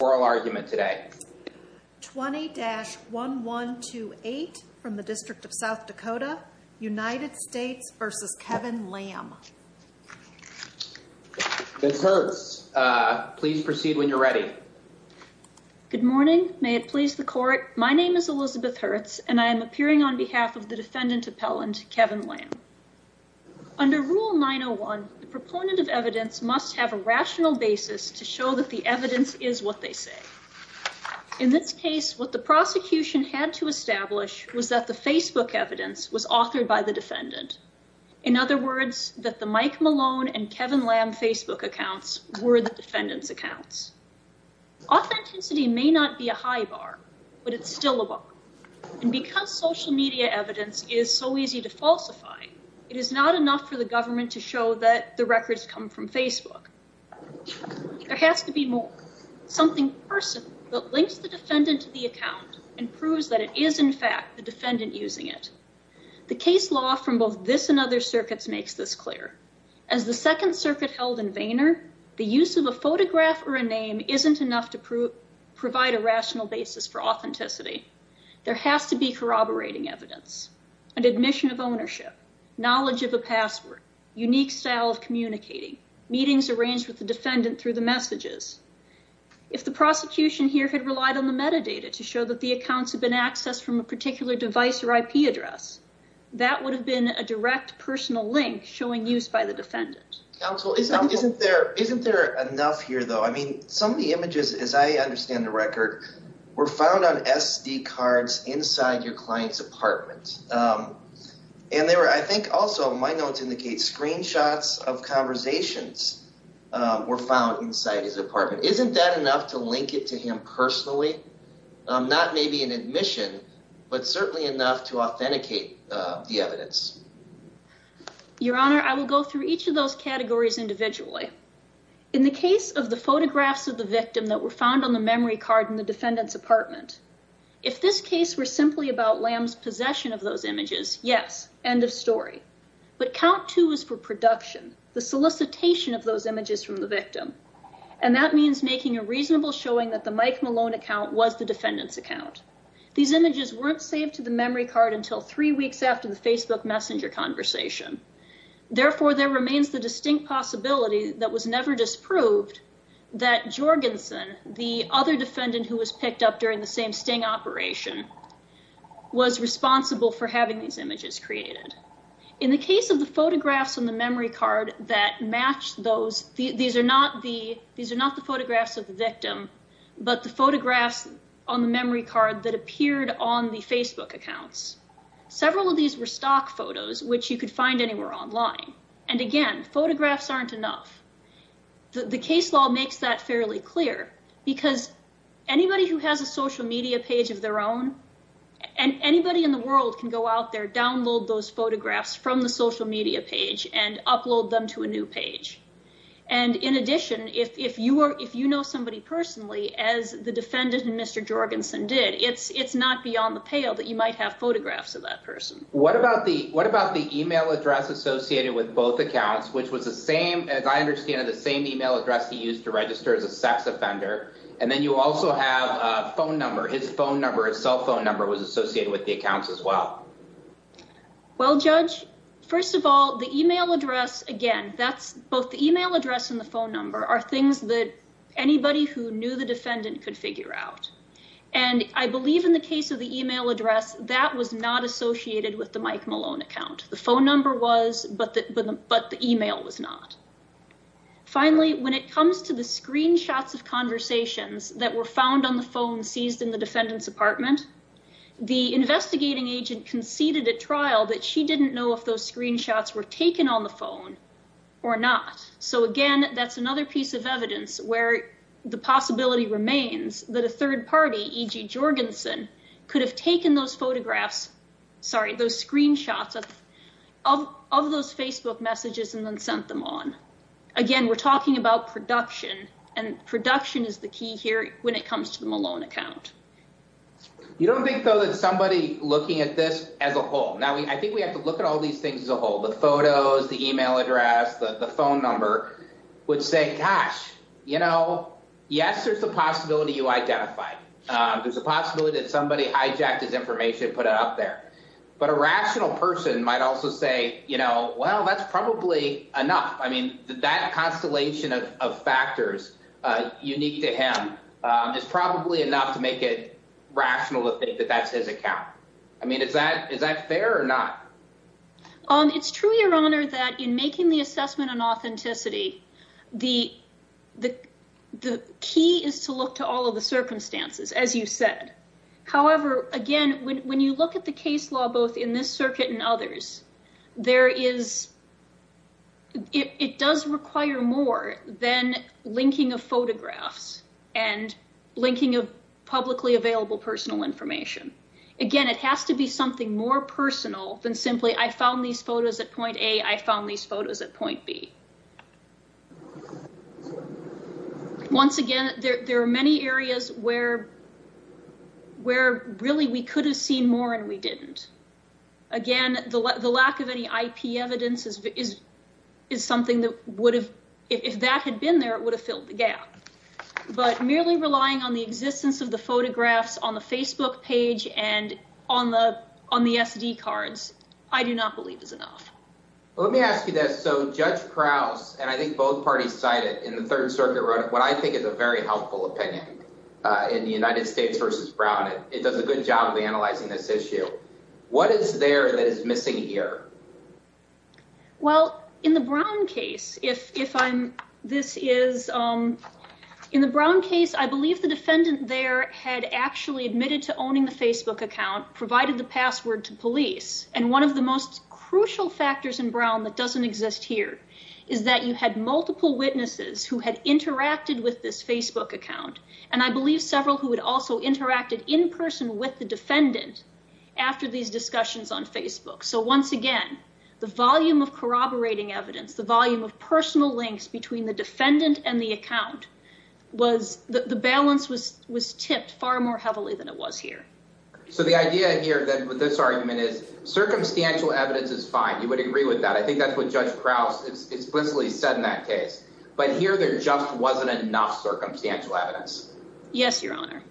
Good morning, may it please the court, my name is Elizabeth Hertz and I am appearing on behalf of the defendant appellant, Kevin Lamm. Under Rule 901, the proponent of evidence must have a rational basis to show that the In this case, what the prosecution had to establish was that the Facebook evidence was authored by the defendant. In other words, that the Mike Malone and Kevin Lamm Facebook accounts were the defendant's accounts. Authenticity may not be a high bar, but it's still a bar. And because social media evidence is so easy to falsify, it is not enough for the government to show that the records come from Facebook. There has to be more, something personal that links the defendant to the account and proves that it is, in fact, the defendant using it. The case law from both this and other circuits makes this clear. As the Second Circuit held in Vayner, the use of a photograph or a name isn't enough to provide a rational basis for authenticity. There has to be corroborating evidence, an admission of ownership, knowledge of a password, unique style of communicating, meetings arranged with the defendant through the messages. If the prosecution here had relied on the metadata to show that the accounts had been accessed from a particular device or IP address, that would have been a direct personal link showing use by the defendant. Counsel, isn't there enough here, though? I mean, some of the images, as I understand the record, were found on SD cards inside your client's apartment. And there were, I think also, my notes indicate, screenshots of conversations were found inside his apartment. Isn't that enough to link it to him personally? Not maybe an admission, but certainly enough to authenticate the evidence. Your Honor, I will go through each of those categories individually. In the case of the photographs of the victim that were found on the memory card in the Yes, end of story. But count two is for production. The solicitation of those images from the victim. And that means making a reasonable showing that the Mike Malone account was the defendant's account. These images weren't saved to the memory card until three weeks after the Facebook messenger conversation. Therefore, there remains the distinct possibility that was never disproved that Jorgensen, the other defendant who was picked up during the same sting operation, was responsible for having these images created. In the case of the photographs on the memory card that matched those, these are not the photographs of the victim, but the photographs on the memory card that appeared on the Facebook accounts. Several of these were stock photos, which you could find anywhere online. And again, photographs aren't enough. The case law makes that fairly clear because anybody who has a social media page of their own and anybody in the world can go out there, download those photographs from the social media page and upload them to a new page. And in addition, if you are if you know somebody personally, as the defendant and Mr. Jorgensen did, it's it's not beyond the pale that you might have photographs of that person. What about the what about the email address associated with both accounts, which was the same, as I understand it, the same email address he used to register as a sex offender. And then you also have a phone number. His phone number, his cell phone number was associated with the accounts as well. Well, Judge, first of all, the email address, again, that's both the email address and the phone number are things that anybody who knew the defendant could figure out. And I believe in the case of the email address that was not associated with the Mike Malone account. The phone number was, but the email was not. Finally, when it comes to the screenshots of conversations that were found on the phone seized in the defendant's apartment, the investigating agent conceded at trial that she didn't know if those screenshots were taken on the phone or not. So, again, that's another piece of evidence where the possibility remains that a third of those Facebook messages and then sent them on. Again, we're talking about production and production is the key here when it comes to the Malone account. You don't think, though, that somebody looking at this as a whole. Now, I think we have to look at all these things as a whole. The photos, the email address, the phone number would say, gosh, you know, yes, there's a possibility you identify. There's a possibility that somebody hijacked his information, put it up there. But a rational person might also say, you know, well, that's probably enough. I mean, that constellation of factors unique to him is probably enough to make it rational to think that that's his account. I mean, is that is that fair or not? It's true, Your Honor, that in making the assessment on authenticity, the the the key is to look to all of the circumstances, as you said. However, again, when you look at the case law, both in this circuit and others, there is it does require more than linking of photographs and linking of publicly available personal information. Again, it has to be something more personal than simply I found these photos at point A, I found these photos at point B. Once again, there are many areas where where really we could have seen more and we didn't. Again, the lack of any IP evidence is is is something that would have if that had been there, it would have filled the gap. But merely relying on the existence of the photographs on the Facebook page and on the on the SD cards, I do not believe is enough. Let me ask you this. So Judge Krause and I think both parties cited in the Third Circuit wrote what I think is a very helpful opinion in the United States versus Brown. It does a good job of analyzing this issue. What is there that is missing here? Well, in the Brown case, if if I'm this is in the Brown case, I believe the defendant there had actually admitted to owning the Facebook account, provided the password to The only thing that's missing here, and this is one of the factors in Brown that doesn't exist here, is that you had multiple witnesses who had interacted with this Facebook account. And I believe several who had also interacted in person with the defendant after these discussions on Facebook. So once again, the volume of corroborating evidence, the volume of personal links between the defendant and the account was the balance was was tipped far more heavily than it was here. So the idea here that with this argument is circumstantial evidence is fine. You would agree with that. I think that's what Judge Krause explicitly said in that case. But here there just wasn't enough circumstantial evidence. Yes, Your Honor.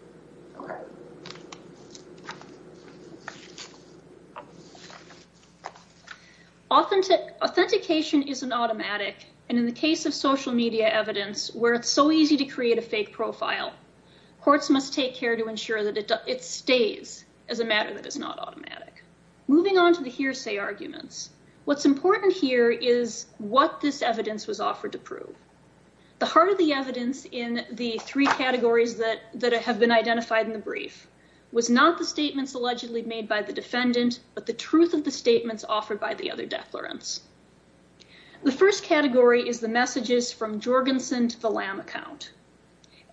Authentic authentication is an automatic. And in the case of social media evidence where it's so easy to create a fake profile, courts must take care to ensure that it stays as a matter that is not automatic. Moving on to the hearsay arguments. What's important here is what this evidence was offered to prove. The heart of the evidence in the three categories that that have been identified in the brief was not the statements allegedly made by the defendant, but the truth of the statements offered by the other declarants. The first category is the messages from Jorgensen to the Lam account.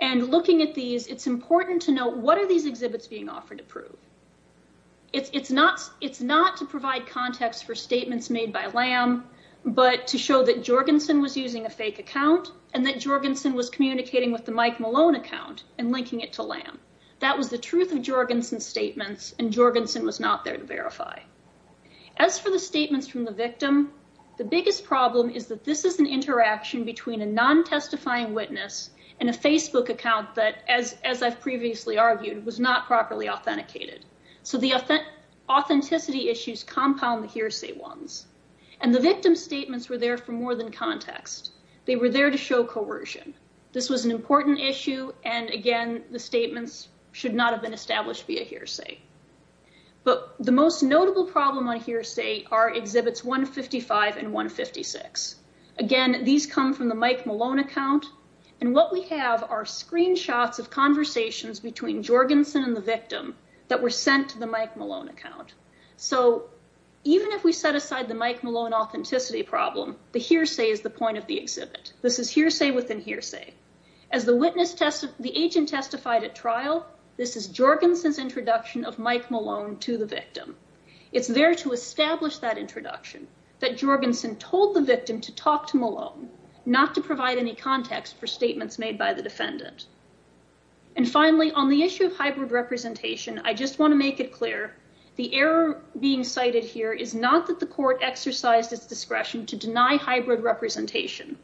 And looking at these, it's important to know what are these exhibits being offered to prove. It's not to provide context for statements made by Lam, but to show that Jorgensen was using a fake account and that Jorgensen was communicating with the Mike Malone account and linking it to Lam. That was the truth of Jorgensen's statements and Jorgensen was not there to verify. As for the statements from the victim, the biggest problem is that this is an interaction between a non-testifying witness and a Facebook account that, as I've previously argued, was not properly authenticated. So the authenticity issues compound the hearsay ones. And the victim's statements were there for more than context. They were there to show coercion. This was an important issue and, again, the statements should not have been established via hearsay. But the most notable problem on hearsay are exhibits 155 and 156. Again, these come from the Mike Malone account. And what we have are screenshots of conversations between Jorgensen and the victim that were sent to the Mike Malone account. So even if we set aside the Mike Malone authenticity problem, the hearsay is the point of the exhibit. This is hearsay within hearsay. As the agent testified at trial, this is Jorgensen's introduction of Mike Malone to the victim. It's there to establish that introduction that Jorgensen told the victim to talk to Malone, not to provide any context for statements made by the defendant. And finally, on the issue of hybrid representation, I just want to make it clear, the error being cited here is not that the court exercised its discretion to deny hybrid representation,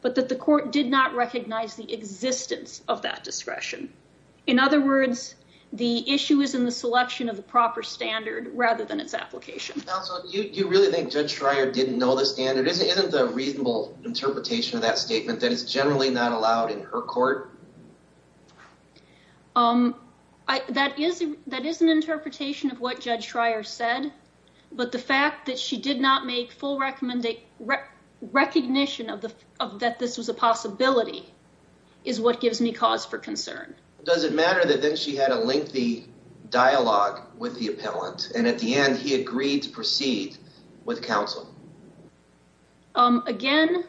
but that the court did not recognize the existence of that discretion. In other words, the issue is in the selection of the proper standard rather than its application. You really think Judge Schreier didn't know the standard? Isn't the reasonable interpretation of that statement that it's generally not allowed in her court? That is an interpretation of what Judge Schreier said. But the fact that she did not make full recognition of that this was a possibility is what gives me cause for concern. Does it matter that then she had a lengthy dialogue with the appellant and at the end he agreed to proceed with counsel? Again,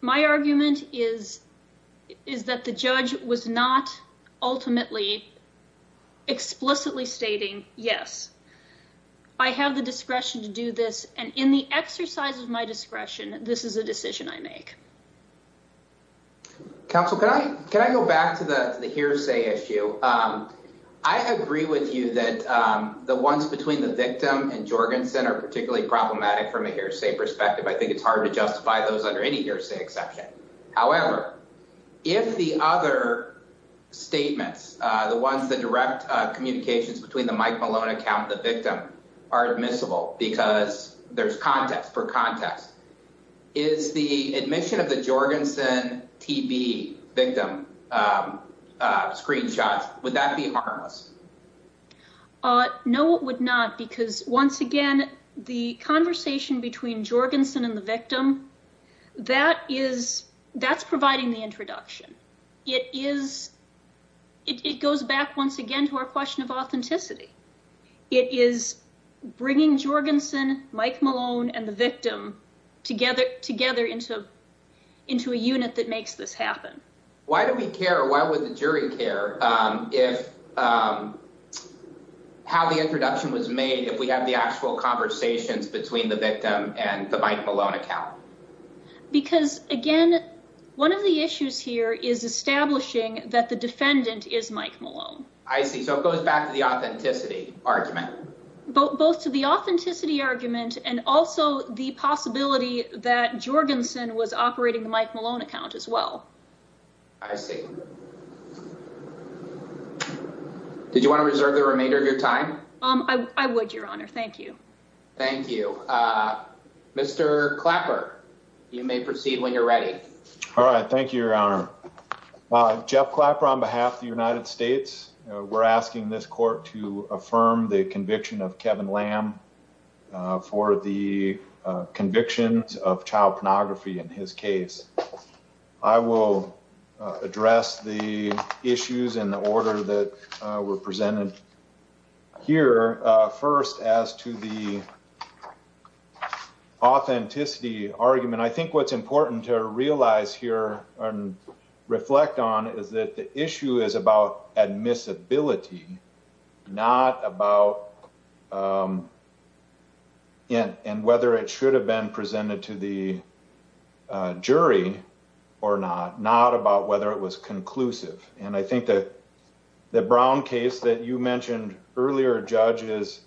my argument is that the judge was not ultimately explicitly stating, yes, I have the discretion to do this and in the exercise of my discretion, this is a decision I make. Counsel, can I go back to the hearsay issue? I agree with you that the ones between the victim and Jorgensen are particularly problematic from a hearsay perspective. I think it's hard to justify those under any hearsay exception. However, if the other statements, the ones that direct communications between the Mike Malone account and the victim are admissible because there's context for context, is the admission of the Jorgensen TB victim screenshots, would that be harmless? No, it would not. Because once again, the conversation between Jorgensen and the victim, that's providing the introduction. It goes back once again to our question of authenticity. It is bringing Jorgensen, Mike Malone, and the victim together into a unit that makes this happen. Why do we care? Why would the jury care if how the introduction was made, if we have the actual conversations between the victim and the Mike Malone account? Because again, one of the issues here is establishing that the defendant is Mike Malone. I see. So it goes back to the authenticity argument. Both to the authenticity argument and also the possibility that Jorgensen was operating the Mike Malone account as well. I see. Did you want to reserve the remainder of your time? I would, Your Honor. Thank you. Thank you. Mr. Clapper, you may proceed when you're ready. All right. Thank you, Your Honor. Jeff Clapper, on behalf of the United States, we're asking this court to affirm the conviction of Kevin Lamb for the convictions of child pornography in his case. I will address the issues in the order that were presented here. First, as to the authenticity argument, and I think what's important to realize here and reflect on is that the issue is about admissibility, not about whether it should have been presented to the jury or not, not about whether it was conclusive. And I think that the Brown case that you mentioned earlier, Judge, is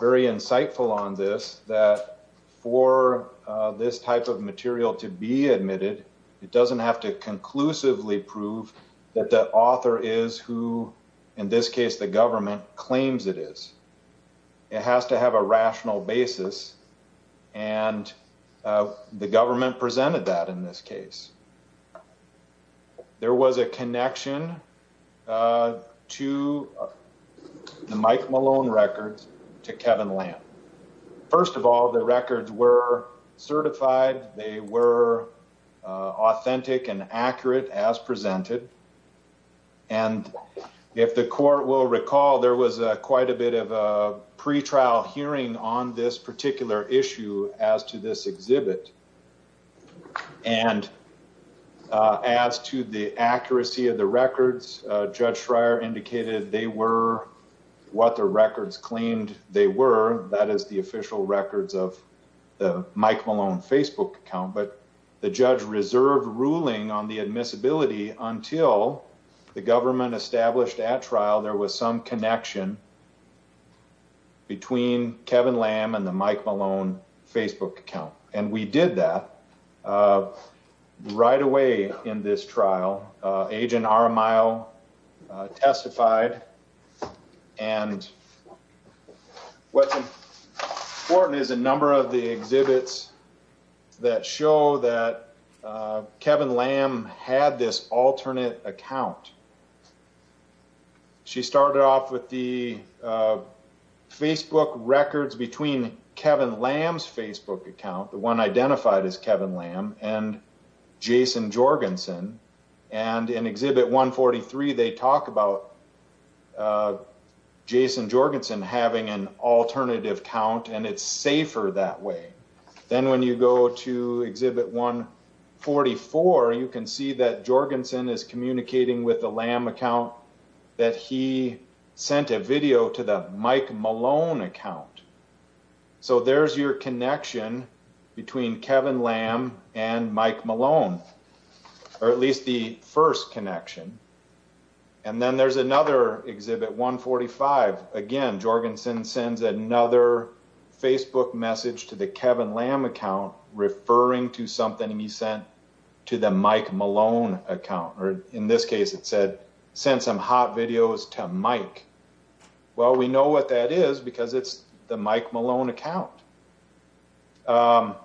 very insightful on this, that for this type of material to be admitted, it doesn't have to conclusively prove that the author is who, in this case, the government claims it is. It has to have a rational basis. And the government presented that in this case. There was a connection to the Mike Malone records to Kevin Lamb. First of all, the records were certified. They were authentic and accurate as presented. And if the court will recall, there was quite a bit of a pretrial hearing on this particular issue as to this exhibit. And as to the accuracy of the records, Judge Schreier indicated they were what the records claimed they were. That is the official records of the Mike Malone Facebook account. But the judge reserved ruling on the admissibility until the government established at trial, there was some connection between Kevin Lamb and the Mike Malone Facebook account. And we did that right away in this trial. Agent Aramayo testified. And what's important is a number of the exhibits that show that Kevin Lamb had this alternate account. She started off with the Facebook records between Kevin Lamb's Facebook account, the one identified as Kevin Lamb, and Jason Jorgensen. And in Exhibit 143, they talk about Jason Jorgensen having an alternative account, and it's safer that way. Then when you go to Exhibit 144, you can see that Jorgensen is communicating with the Lamb account that he sent a video to the Mike Malone account. So there's your connection between Kevin Lamb and Mike Malone, or at least the first connection. And then there's another Exhibit 145. Again, Jorgensen sends another Facebook message to the Kevin Lamb account referring to something he sent to the Mike Malone account. Or in this case, it said, send some hot videos to Mike. Well, we know what that is because it's the Mike Malone account. So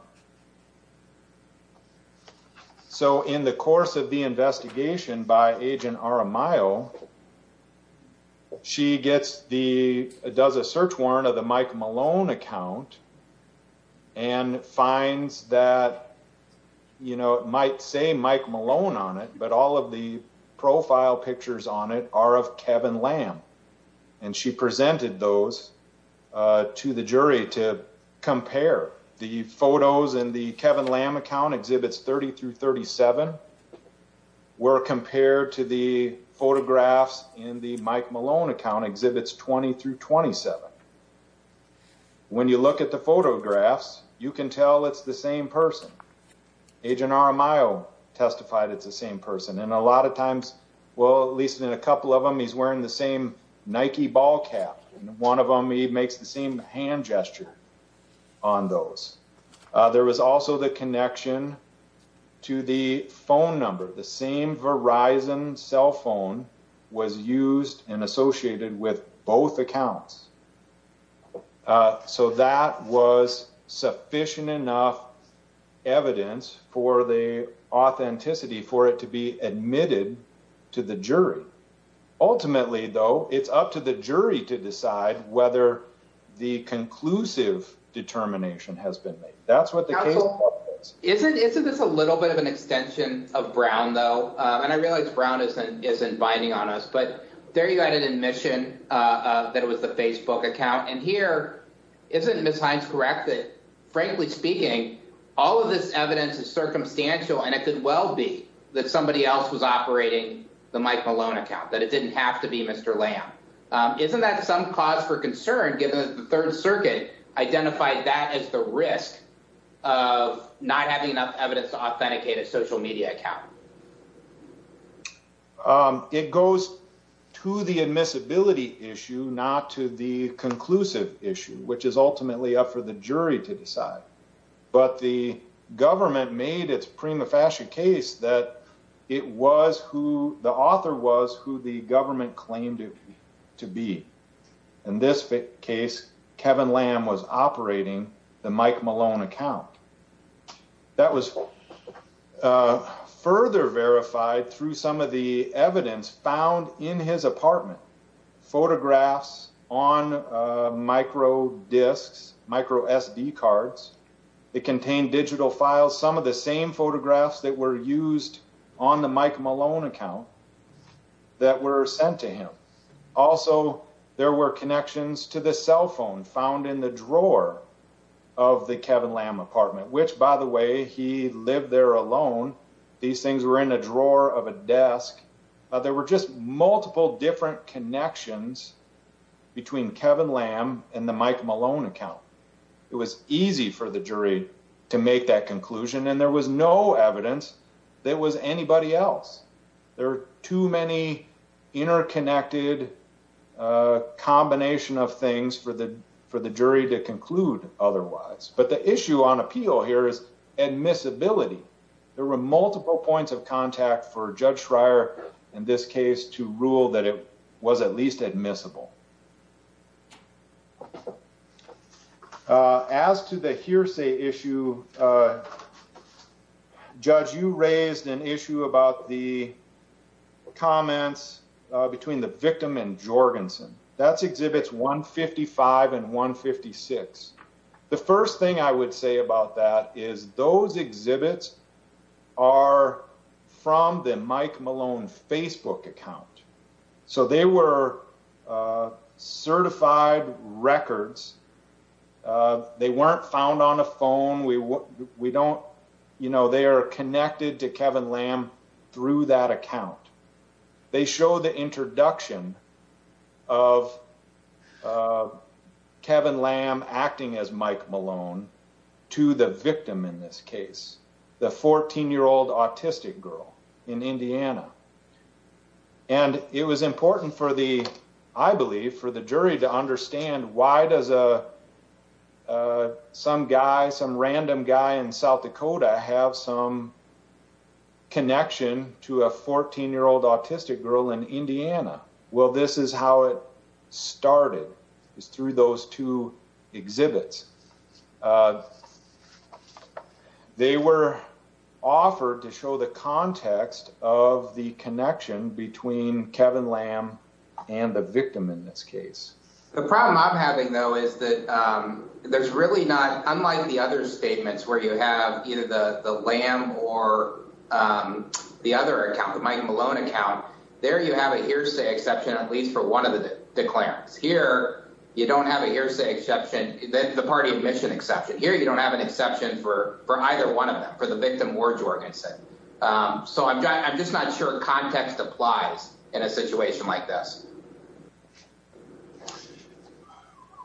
in the course of the investigation by Agent Aramayo, she does a search warrant of the Mike Malone account and finds that, you know, it might say Mike Malone on it, but all of the profile pictures on it are of Kevin Lamb. And she presented those to the jury to compare. The photos in the Kevin Lamb account, Exhibits 30 through 37, were compared to the photographs in the Mike Malone account, Exhibits 20 through 27. When you look at the photographs, you can tell it's the same person. Agent Aramayo testified it's the same person. And a lot of times, well, at least in a couple of them, he's wearing the same Nike ball cap. And one of them, he makes the same hand gesture on those. There was also the connection to the phone number. The same Verizon cell phone was used and associated with both accounts. So that was sufficient enough evidence for the authenticity for it to be admitted to the jury. Ultimately, though, it's up to the jury to decide whether the conclusive determination has been made. Isn't this a little bit of an extension of Brown, though? And I realize Brown isn't isn't binding on us, but there you had an admission that it was the Facebook account. And here, isn't Ms. Hines correct that, frankly speaking, all of this evidence is circumstantial. And it could well be that somebody else was operating the Mike Malone account, that it didn't have to be Mr. Lamb. Isn't that some cause for concern, given that the Third Circuit identified that as the risk of not having enough evidence to authenticate a social media account? It goes to the admissibility issue, not to the conclusive issue, which is ultimately up for the jury to decide. But the government made its prima facie case that it was who the author was, who the government claimed to be. In this case, Kevin Lamb was operating the Mike Malone account. That was further verified through some of the evidence found in his apartment. Photographs on micro disks, micro SD cards. It contained digital files, some of the same photographs that were used on the Mike Malone account that were sent to him. Also, there were connections to the cell phone found in the drawer of the Kevin Lamb apartment, which, by the way, he lived there alone. These things were in a drawer of a desk. There were just multiple different connections between Kevin Lamb and the Mike Malone account. It was easy for the jury to make that conclusion. And there was no evidence that it was anybody else. There are too many interconnected combination of things for the jury to conclude otherwise. But the issue on appeal here is admissibility. There were multiple points of contact for Judge Schreier in this case to rule that it was at least admissible. As to the hearsay issue, Judge, you raised an issue about the comments between the victim and Jorgensen. That's exhibits 155 and 156. The first thing I would say about that is those exhibits are from the Mike Malone Facebook account. They were certified records. They weren't found on a phone. They are connected to Kevin Lamb through that account. They show the introduction of Kevin Lamb acting as Mike Malone to the victim in this case, the 14-year-old autistic girl in Indiana. And it was important for the, I believe, for the jury to understand why does some random guy in South Dakota have some connection to a 14-year-old autistic girl in Indiana. Well, this is how it started, is through those two exhibits. They were offered to show the context of the connection between Kevin Lamb and the victim in this case. The problem I'm having, though, is that there's really not, unlike the other statements where you have either the Lamb or the other account, the Mike Malone account, there you have a hearsay exception at least for one of the declarants. Here you don't have a hearsay exception. The party admission exception. Here you don't have an exception for either one of them, for the victim or Jorgensen. So I'm just not sure context applies in a situation like this.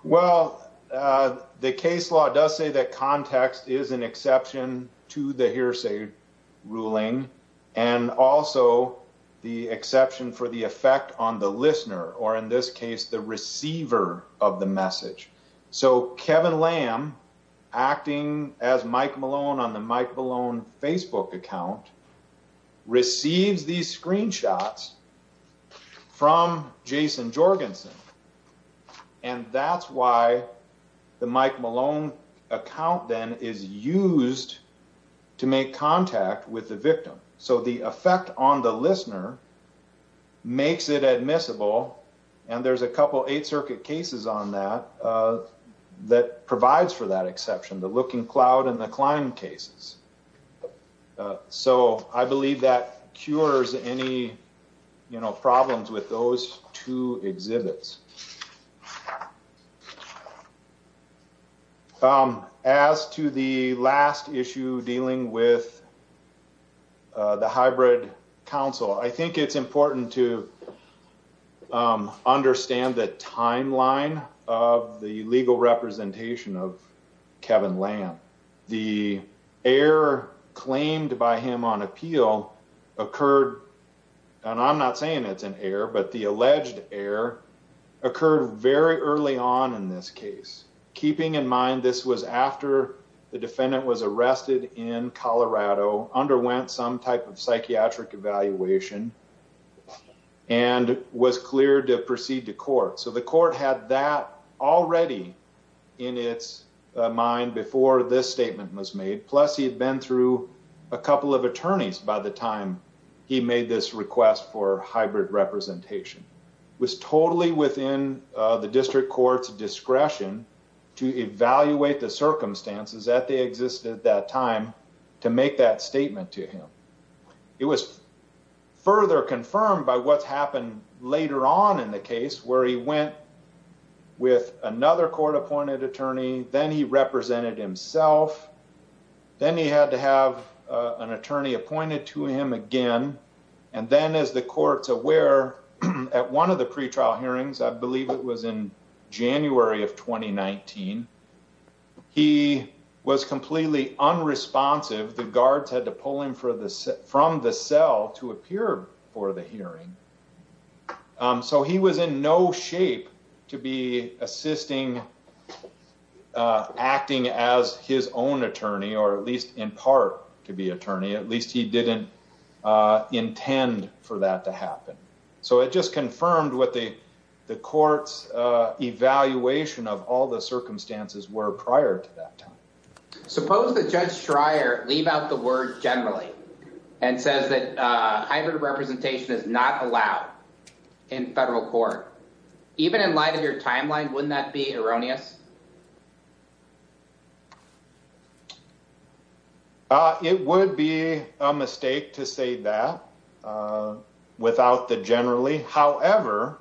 Well, the case law does say that context is an exception to the hearsay ruling and also the exception for the effect on the listener or, in this case, the receiver of the message. So Kevin Lamb, acting as Mike Malone on the Mike Malone Facebook account, receives these screenshots from Jason Jorgensen. And that's why the Mike Malone account then is used to make contact with the victim. So the effect on the listener makes it admissible. And there's a couple Eighth Circuit cases on that that provides for that exception, the Looking Cloud and the Climb cases. So I believe that cures any problems with those two exhibits. Thank you. Any other questions? As to the last issue dealing with the hybrid council, I think it's important to understand the timeline of the legal representation of Kevin Lamb. The error claimed by him on appeal occurred. And I'm not saying it's an error, but the alleged error occurred very early on in this case. Keeping in mind, this was after the defendant was arrested in Colorado, underwent some type of psychiatric evaluation and was cleared to proceed to court. So the court had that already in its mind before this statement was made. Plus, he had been through a couple of attorneys by the time he made this request for hybrid representation. It was totally within the district court's discretion to evaluate the circumstances that they existed at that time to make that statement to him. It was further confirmed by what's happened later on in the case where he went with another court-appointed attorney. Then he represented himself. Then he had to have an attorney appointed to him again. And then, as the court's aware, at one of the pretrial hearings, I believe it was in January of 2019, he was completely unresponsive. The guards had to pull him from the cell to appear for the hearing. So he was in no shape to be assisting, acting as his own attorney, or at least in part to be attorney. At least he didn't intend for that to happen. So it just confirmed what the court's evaluation of all the circumstances were prior to that time. Suppose that Judge Schreier leave out the word generally and says that hybrid representation is not allowed in federal court. Even in light of your timeline, wouldn't that be erroneous? It would be a mistake to say that without the generally. However,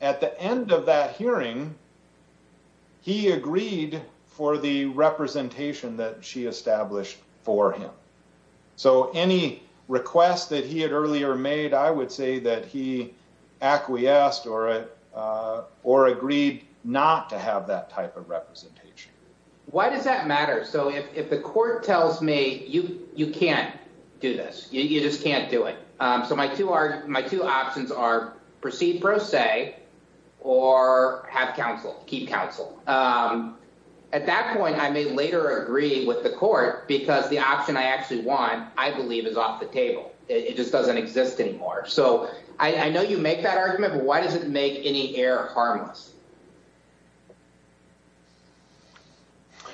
at the end of that hearing, he agreed for the representation that she established for him. So any request that he had earlier made, I would say that he acquiesced or agreed not to have that type of representation. Why does that matter? So if the court tells me you can't do this, you just can't do it. So my two options are proceed pro se or have counsel, keep counsel. At that point, I may later agree with the court because the option I actually want, I believe, is off the table. It just doesn't exist anymore. So I know you make that argument. Why does it make any error harmless?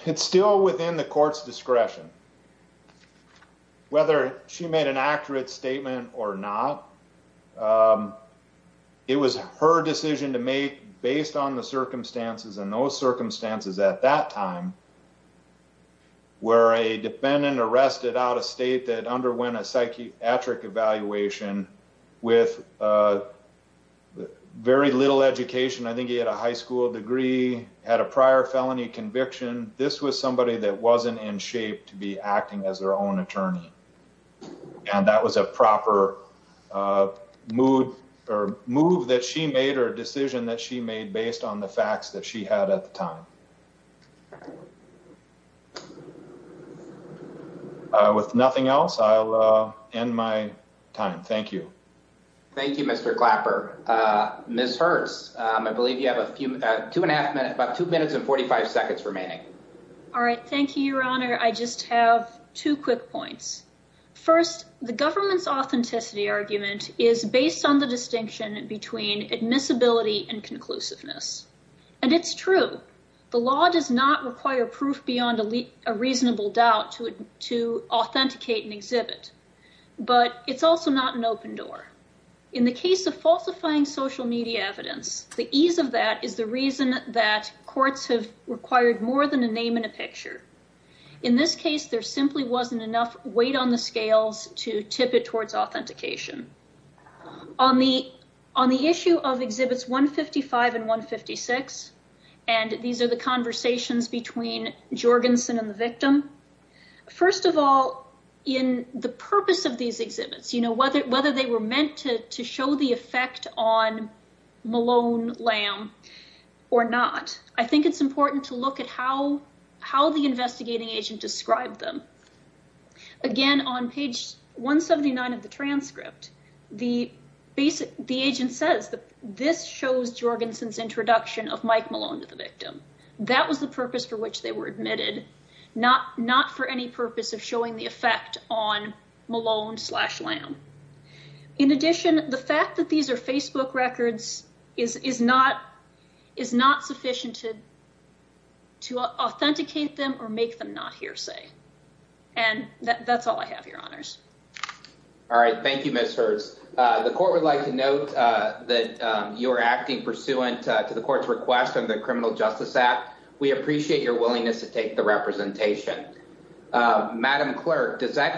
It's still within the court's discretion. Whether she made an accurate statement or not, it was her decision to make based on the circumstances. And those circumstances at that time were a defendant arrested out of state that underwent a psychiatric evaluation with very little education. I think he had a high school degree, had a prior felony conviction. This was somebody that wasn't in shape to be acting as their own attorney. And that was a proper mood or move that she made or a decision that she made based on the facts that she had at the time. With nothing else, I'll end my time. Thank you. Thank you, Mr. Clapper. Ms. Hertz, I believe you have a few two and a half minutes, about two minutes and 45 seconds remaining. All right. Thank you, Your Honor. I just have two quick points. First, the government's authenticity argument is based on the distinction between admissibility and conclusiveness. And it's true. The law does not require proof beyond a reasonable doubt to to authenticate and exhibit. But it's also not an open door in the case of falsifying social media evidence. The ease of that is the reason that courts have required more than a name in a picture. In this case, there simply wasn't enough weight on the scales to tip it towards authentication. On the on the issue of Exhibits 155 and 156. And these are the conversations between Jorgensen and the victim. First of all, in the purpose of these exhibits, you know, whether whether they were meant to to show the effect on Malone Lamb or not. I think it's important to look at how how the investigating agent described them. Again, on page 179 of the transcript, the basic the agent says that this shows Jorgensen's introduction of Mike Malone to the victim. That was the purpose for which they were admitted. Not not for any purpose of showing the effect on Malone slash lamb. In addition, the fact that these are Facebook records is is not is not sufficient to. To authenticate them or make them not hearsay. And that's all I have. Your honors. All right. Thank you, Mr. The court would like to note that you are acting pursuant to the court's request of the Criminal Justice Act. We appreciate your willingness to take the representation. Madam Clerk, does that.